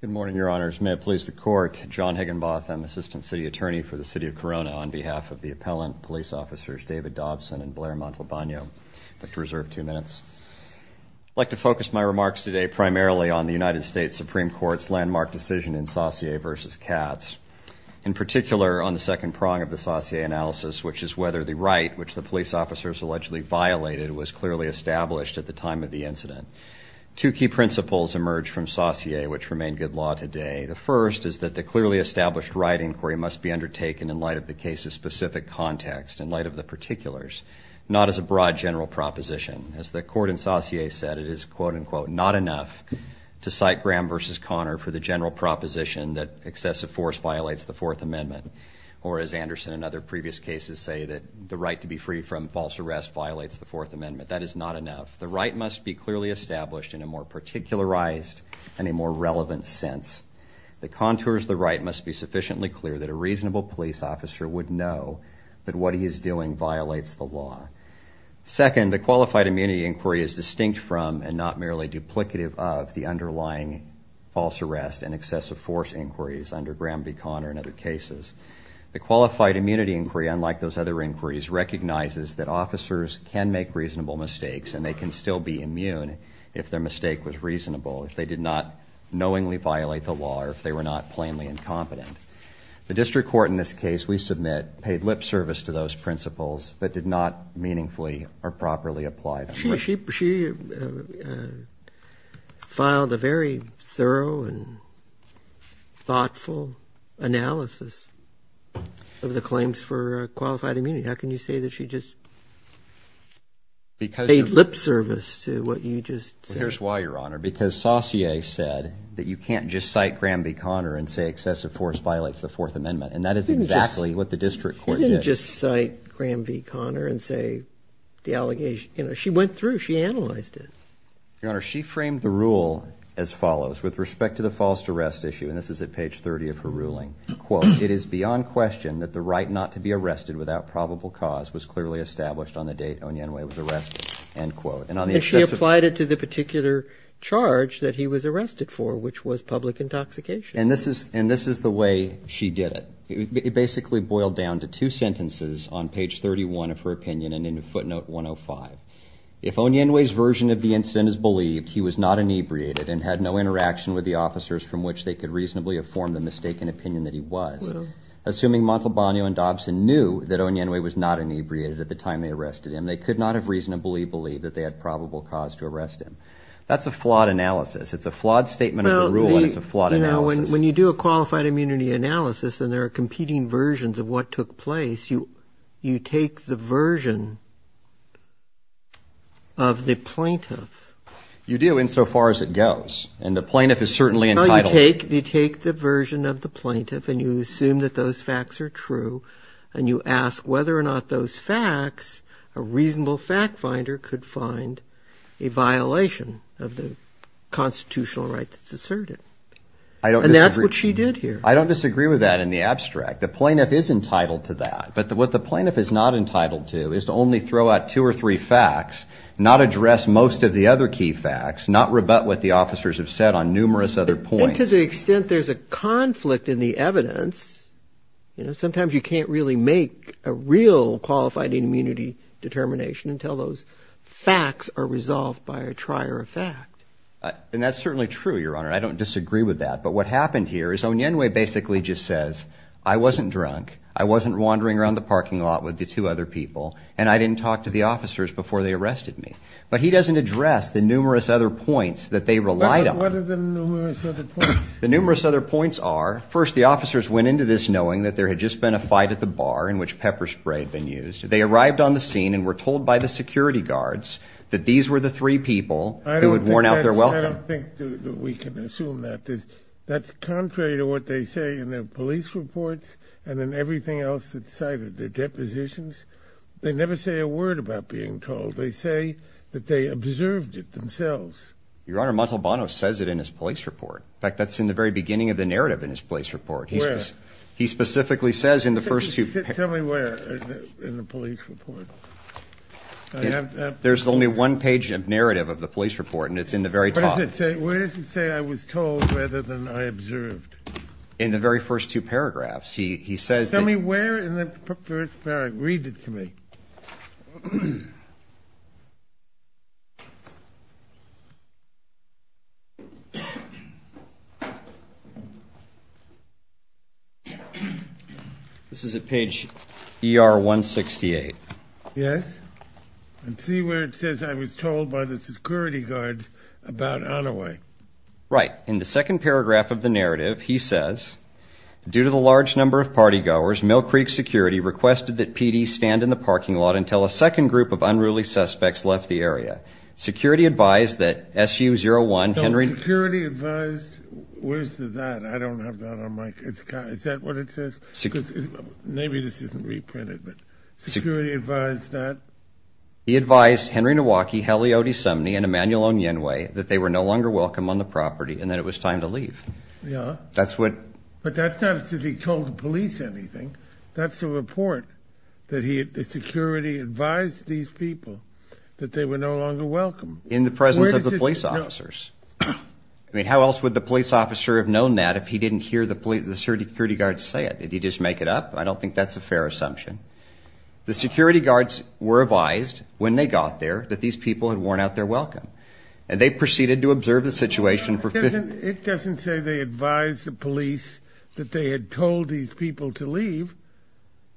Good morning, Your Honors. May it please the Court, John Higginbotham, Assistant City Attorney for the City of Corona, on behalf of the Appellant Police Officers David Dobson and Blair Montalbano. I'd like to reserve two minutes. I'd like to focus my remarks today primarily on the United States Supreme Court's landmark decision in Saussure v. Katz, in particular on the second prong of the Saussure analysis, which is whether the right which the police officers allegedly violated was clearly established at the time of the incident. Two key principles emerged from Saussure, which remain good law today. The first is that the clearly established right inquiry must be undertaken in light of the case's specific context, in light of the particulars, not as a broad general proposition. As the Court in Saussure said, it is, quote unquote, not enough to cite Graham v. Connor for the general proposition that excessive force violates the Fourth Amendment, or as Anderson and other previous cases say, that the right to be free from false arrest violates the Fourth Amendment. That is not enough. The right must be clearly established in a more particularized and a more relevant sense. The contours of the right must be sufficiently clear that a reasonable police officer would know that what he is doing violates the law. Second, the qualified immunity inquiry is distinct from, and not merely duplicative of, the underlying false arrest and excessive force inquiries under Graham v. Connor and other cases. The qualified immunity inquiry, unlike those other inquiries, recognizes that officers can make reasonable mistakes and they can still be immune if their mistake was reasonable, if they did not knowingly violate the law, or if they were not plainly incompetent. The district court in this case, we submit, paid lip service to those principles, but did not meaningfully or properly apply them. But she, she, she filed a very thorough and thoughtful analysis of the claims for qualified immunity. How can you say that she just paid lip service to what you just said? Well, here's why, Your Honor. Because Saussure said that you can't just cite Graham v. Connor and say excessive force violates the Fourth Amendment. And that is exactly what the district court did. You can't just cite Graham v. Connor and say the allegation, you know, she went through, she analyzed it. Your Honor, she framed the rule as follows, with respect to the false arrest issue, and this is at page 30 of her ruling. Quote, it is beyond question that the right not to be arrested without probable cause was clearly established on the date Onyenwe was arrested, end quote. And she applied it to the particular charge that he was arrested for, which was public intoxication. And this is, and this is the way she did it. It basically boiled down to two sentences on page 31 of her opinion and in footnote 105. If Onyenwe's version of the incident is believed, he was not inebriated and had no interaction with the officers from which they could reasonably inform the mistaken opinion that he was. Assuming Montalbano and Dobson knew that Onyenwe was not inebriated at the time they arrested him, they could not have reasonably believed that they had probable cause to arrest him. That's a flawed analysis. It's a flawed statement of the rule and it's a flawed analysis. When you do a qualified immunity analysis and there are competing versions of what took place, you, you take the version of the plaintiff. You do, insofar as it goes. And the plaintiff is certainly entitled. No, you take, you take the version of the plaintiff and you assume that those facts are true and you ask whether or not those facts, a reasonable fact finder could find a violation of the constitutional right that's asserted. And that's what she did here. I don't disagree with that in the abstract. The plaintiff is entitled to that. But what the plaintiff is not entitled to is to only throw out two or three facts, not address most of the other key facts, not rebut what the officers have said on numerous other points. And to the extent there's a conflict in the evidence, you know, sometimes you can't really make a real qualified immunity determination until those facts are resolved by a trier of fact. And that's certainly true, Your Honor. I don't disagree with that. But what happened here is Onyenwe basically just says, I wasn't drunk. I wasn't wandering around the parking lot with the two other people. And I didn't talk to the officers before they arrested me. But he doesn't address the numerous other points that they relied on. What are the numerous other points? The numerous other points are, first, the officers went into this knowing that there had just been a fight at the bar in which pepper spray had been used. They arrived on the scene and were told by the security guards that these were the three people who had worn out their welcome. I don't think that we can assume that. That's contrary to what they say in their police reports and in everything else that's cited, their depositions. They never say a word about being told. They say that they observed it themselves. Your Honor, Montalbano says it in his police report. In fact, that's in the very beginning of the narrative in his police report. Where? He specifically says in the first two pages. Tell me where in the police report. There's only one page of narrative of the police report, and it's in the very top. Where does it say I was told rather than I observed? In the very first two paragraphs. He says that... Tell me where in the first paragraph. Read it to me. This is at page ER-168. Yes. And see where it says I was told by the security guards about Onaway. Right. In the second paragraph of the narrative, he says, Due to the large number of party goers, Mill Creek Security requested that PDs stand in the parking lot until a second group of unruly suspects left the area. Security advised that SU-01, Henry... No, security advised... Where's the that? I don't have that on my... Is that what it says? Maybe this isn't reprinted, but security advised that... He advised Henry Nowacki, Hallie Odesumny, and Emmanuel Onyenwe that they were no longer welcome on the property and that it was time to leave. Yeah. That's what... But that's not as if he told the police anything. That's a report that the security advised these people that they were no longer welcome. In the presence of the police officers. I mean, how else would the police officer have known that if he didn't hear the security guards say it? Did he just make it up? I don't think that's a fair assumption. The security guards were advised when they got there that these people had worn out their welcome. And they proceeded to observe the situation... It doesn't say they advised the police that they had told these people to leave.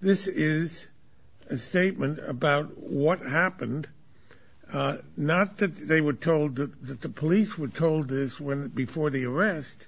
This is a statement about what happened. Not that they were told that the police were told this before the arrest.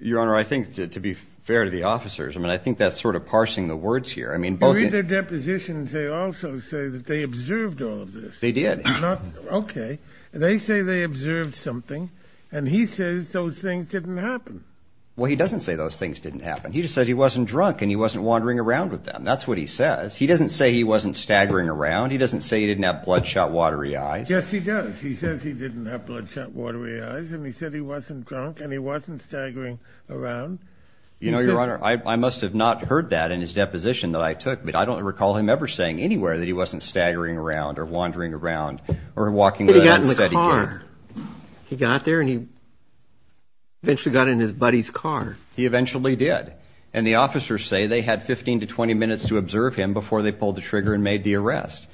Your Honor, I think, to be fair to the officers, I mean, I think that's sort of parsing the words here. I mean, both... In their depositions, they also say that they observed all of this. They did. Okay. They say they observed something. And he says those things didn't happen. Well, he doesn't say those things didn't happen. He just says he wasn't drunk and he wasn't wandering around with them. That's what he says. He doesn't say he wasn't staggering around. He doesn't say he didn't have bloodshot watery eyes. Yes, he does. He says he didn't have bloodshot watery eyes. And he said he wasn't drunk and he wasn't staggering around. You know, Your Honor, I must have not heard that in his deposition that I took. I mean, I don't recall him ever saying anywhere that he wasn't staggering around or wandering around or walking... He got in his car. He got there and he eventually got in his buddy's car. He eventually did. And the officers say they had 15 to 20 minutes to observe him before they pulled the trigger and made the arrest.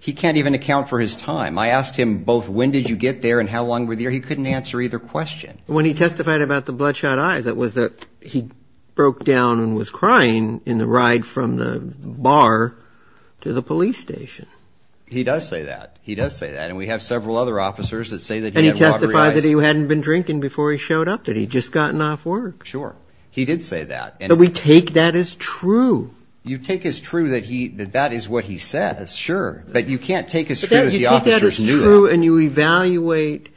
He can't even account for his time. I asked him both when did you get there and how long were there. He couldn't answer either question. When he testified about the bloodshot eyes, it was that he broke down and was crying in the ride from the bar to the police station. He does say that. He does say that. And we have several other officers that say that he had watery eyes. And he testified that he hadn't been drinking before he showed up, that he'd just gotten off work. Sure. He did say that. But we take that as true. You take as true that that is what he says, sure. But you can't take as true that the officers knew that. And you evaluate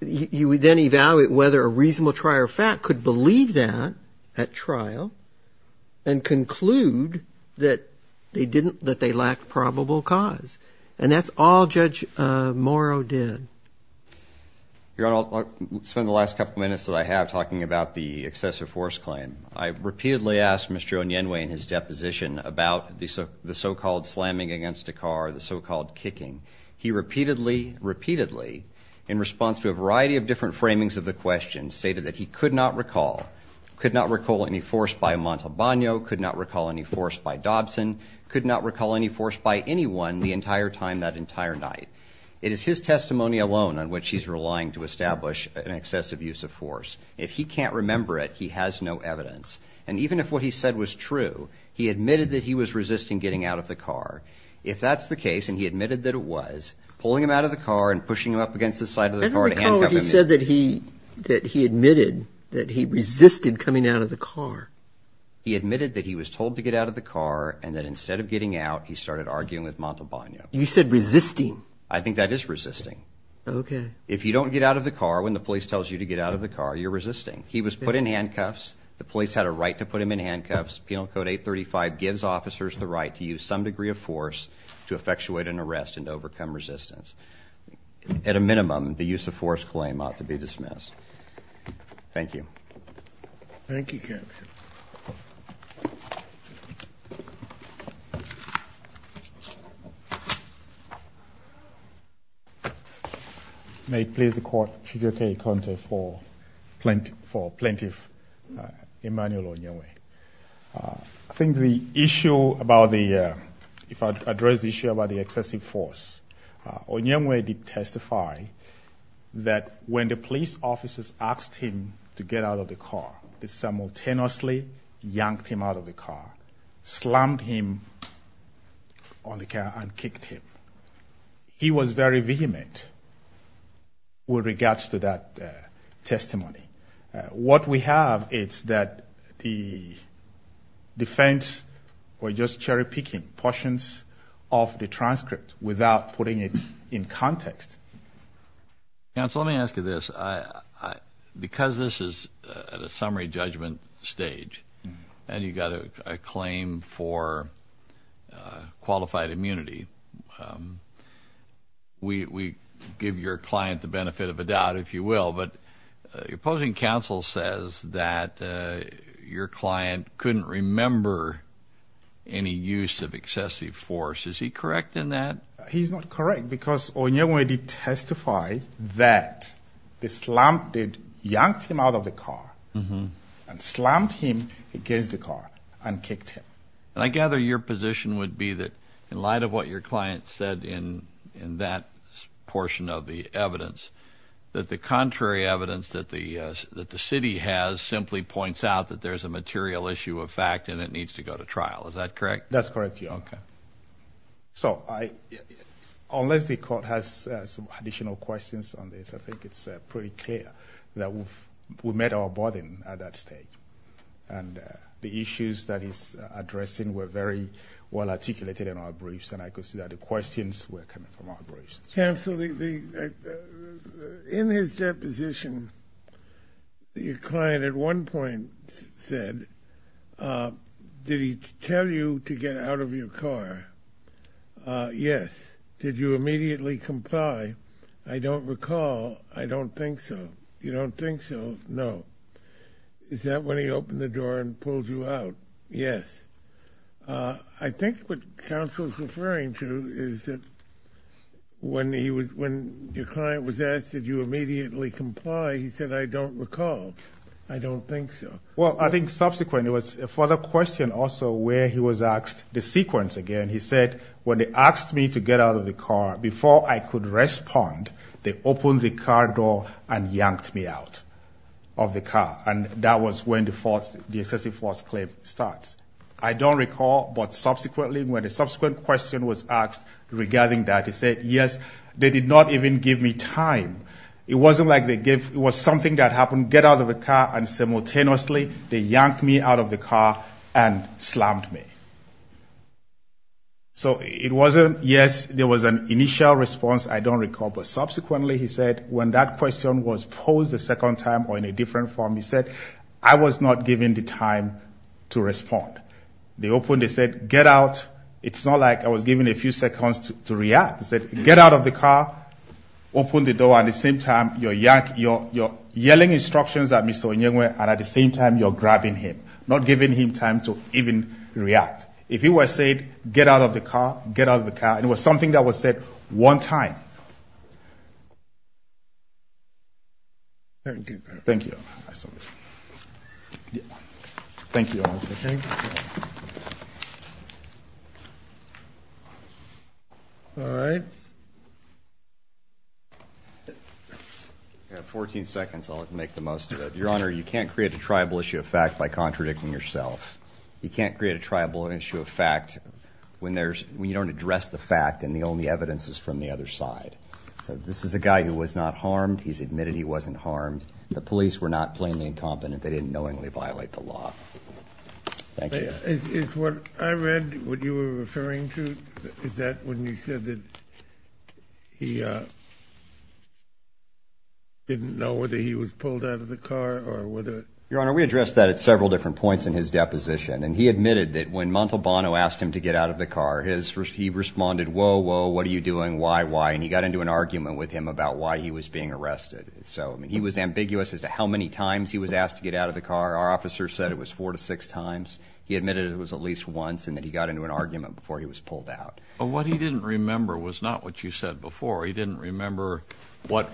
whether a reasonable trial fact could believe that at trial and conclude that they lacked probable cause. And that's all Judge Morrow did. Your Honor, I'll spend the last couple minutes that I have talking about the excessive force claim. I repeatedly asked Mr. Onyenwe in his deposition about the so-called slamming against a car, the so-called kicking. He repeatedly, repeatedly, in response to a variety of different framings of the question, stated that he could not recall any force by Montalbano, could not recall any force by Dobson, could not recall any force by anyone the entire time that entire night. It is his testimony alone on which he's relying to establish an excessive use of force. If he can't remember it, he has no evidence. And even if what he said was true, he admitted that he was resisting getting out of the car. If that's the case, and he admitted that it was, pulling him out of the car and pushing him up against the side of the car to handcuff him. I don't recall what he said that he admitted, that he resisted coming out of the car. He admitted that he was told to get out of the car and that instead of getting out, he started arguing with Montalbano. You said resisting. I think that is resisting. Okay. If you don't get out of the car, when the police tells you to get out of the car, you're resisting. He was put in handcuffs. The police had a right to put him in handcuffs. Penal Code 835 gives officers the right to use some degree of force to effectuate an arrest and to overcome resistance. At a minimum, the use of force claim ought to be dismissed. Thank you. Thank you, Captain. Thank you, Captain. May it please the court to take a contest for Plaintiff Emmanuel Onyengwe. I think the issue about the, if I address the issue about the excessive force, Onyengwe did testify that when the police officers asked him to get out of the car, they simultaneously yanked him out of the car, slammed him on the car, and kicked him. He was very vehement with regards to that testimony. What we have is that the defense were just cherry-picking portions of the transcript without putting it in context. Counsel, let me ask you this. Because this is at a summary judgment stage and you've got a claim for qualified immunity, we give your client the benefit of a doubt, if you will. But your opposing counsel says that your client couldn't remember any use of excessive force. Is he correct in that? He's not correct because Onyengwe did testify that they slammed him, yanked him out of the car, and slammed him against the car and kicked him. And I gather your position would be that in light of what your client said in that portion of the evidence, that the contrary evidence that the city has simply points out that there's a material issue of fact and it needs to go to trial. Is that correct? That's correct, Your Honor. So unless the court has additional questions on this, I think it's pretty clear that we've met our burden at that stage. And the issues that he's addressing were very well articulated in our briefs, and I could see that the questions were coming from our briefs. Counsel, in his deposition, your client at one point said, did he tell you to get out of your car? Yes. Did you immediately comply? I don't recall. I don't think so. You don't think so? No. Is that when he opened the door and pulled you out? Yes. I think what counsel's referring to is that when your client was asked, did you immediately comply, he said, I don't recall. I don't think so. Well, I think subsequently it was a further question also where he was asked the sequence again. He said, when they asked me to get out of the car, before I could respond, they opened the car door and yanked me out of the car. And that was when the excessive force claim starts. I don't recall, but subsequently, when a subsequent question was asked regarding that, he said, yes, they did not even give me time. It wasn't like they gave, it was something that happened, get out of the car, and simultaneously they yanked me out of the car and slammed me. So it wasn't, yes, there was an initial response. I don't recall. But subsequently, he said, when that question was posed a second time or in a different form, he said, I was not given the time to respond. They opened, they said, get out. It's not like I was given a few seconds to react. He said, get out of the car, open the door, and at the same time, you're yanking, you're yelling instructions at Mr. Onyengwe, and at the same time, you're grabbing him, not giving him time to even react. If he was said, get out of the car, get out of the car, it was something that was said one time. Thank you. Thank you. All right. You have 14 seconds. I'll make the most of it. Your Honor, you can't create a tribal issue of fact by contradicting yourself. You can't create a tribal issue of fact when you don't address the fact and the only evidence is from the other side. So this is a guy who was not harmed. He's admitted he wasn't harmed. The police were not plainly incompetent. They didn't knowingly violate the law. Thank you. Is what I read, what you were referring to, is that when you said that he didn't know whether he was pulled out of the car or whether... Your Honor, we addressed that at several different points in his deposition, and he admitted that when Montalbano asked him to get out of the car, he responded, whoa, whoa, what are you doing, why, why, and he got into an argument with him about why he was being arrested. So, I mean, he was ambiguous as to how many times he was asked to get out of the car. Our officer said it was four to six times. He admitted it was at least once and that he got into an argument before he was pulled out. But what he didn't remember was not what you said before. He didn't remember what,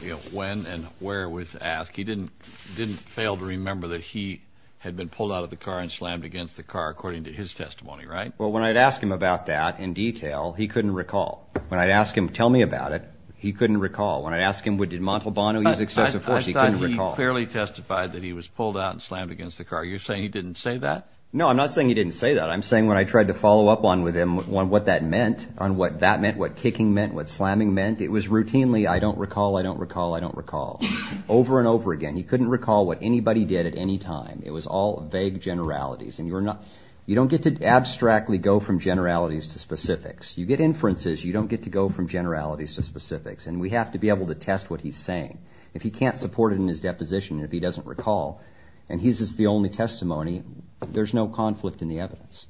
you know, when and where it was asked. He didn't fail to remember that he had been pulled out of the car and slammed against the car, according to his testimony, right? Well, when I'd ask him about that in detail, he couldn't recall. When I'd ask him, tell me about it, he couldn't recall. When I'd ask him, did Montalbano use excessive force, he couldn't recall. I thought he clearly testified that he was pulled out and slammed against the car. You're saying he didn't say that? No, I'm not saying he didn't say that. I'm saying when I tried to follow up on with him on what that meant, on what that meant, what kicking meant, what slamming meant, it was routinely, I don't recall, I don't recall, I don't recall, over and over again. He couldn't recall what anybody did at any time. It was all vague generalities. And you don't get to abstractly go from generalities to specifics. You get inferences. You don't get to go from generalities to specifics. And we have to be able to test what he's saying. If he can't support it in his deposition, if he doesn't recall, and his is the only testimony, there's no conflict in the evidence.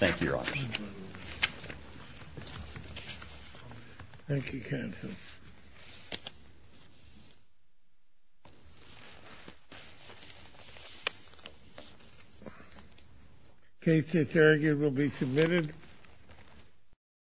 Thank you, Your Honor. Thank you, counsel. Thank you. The case is here. It will be submitted.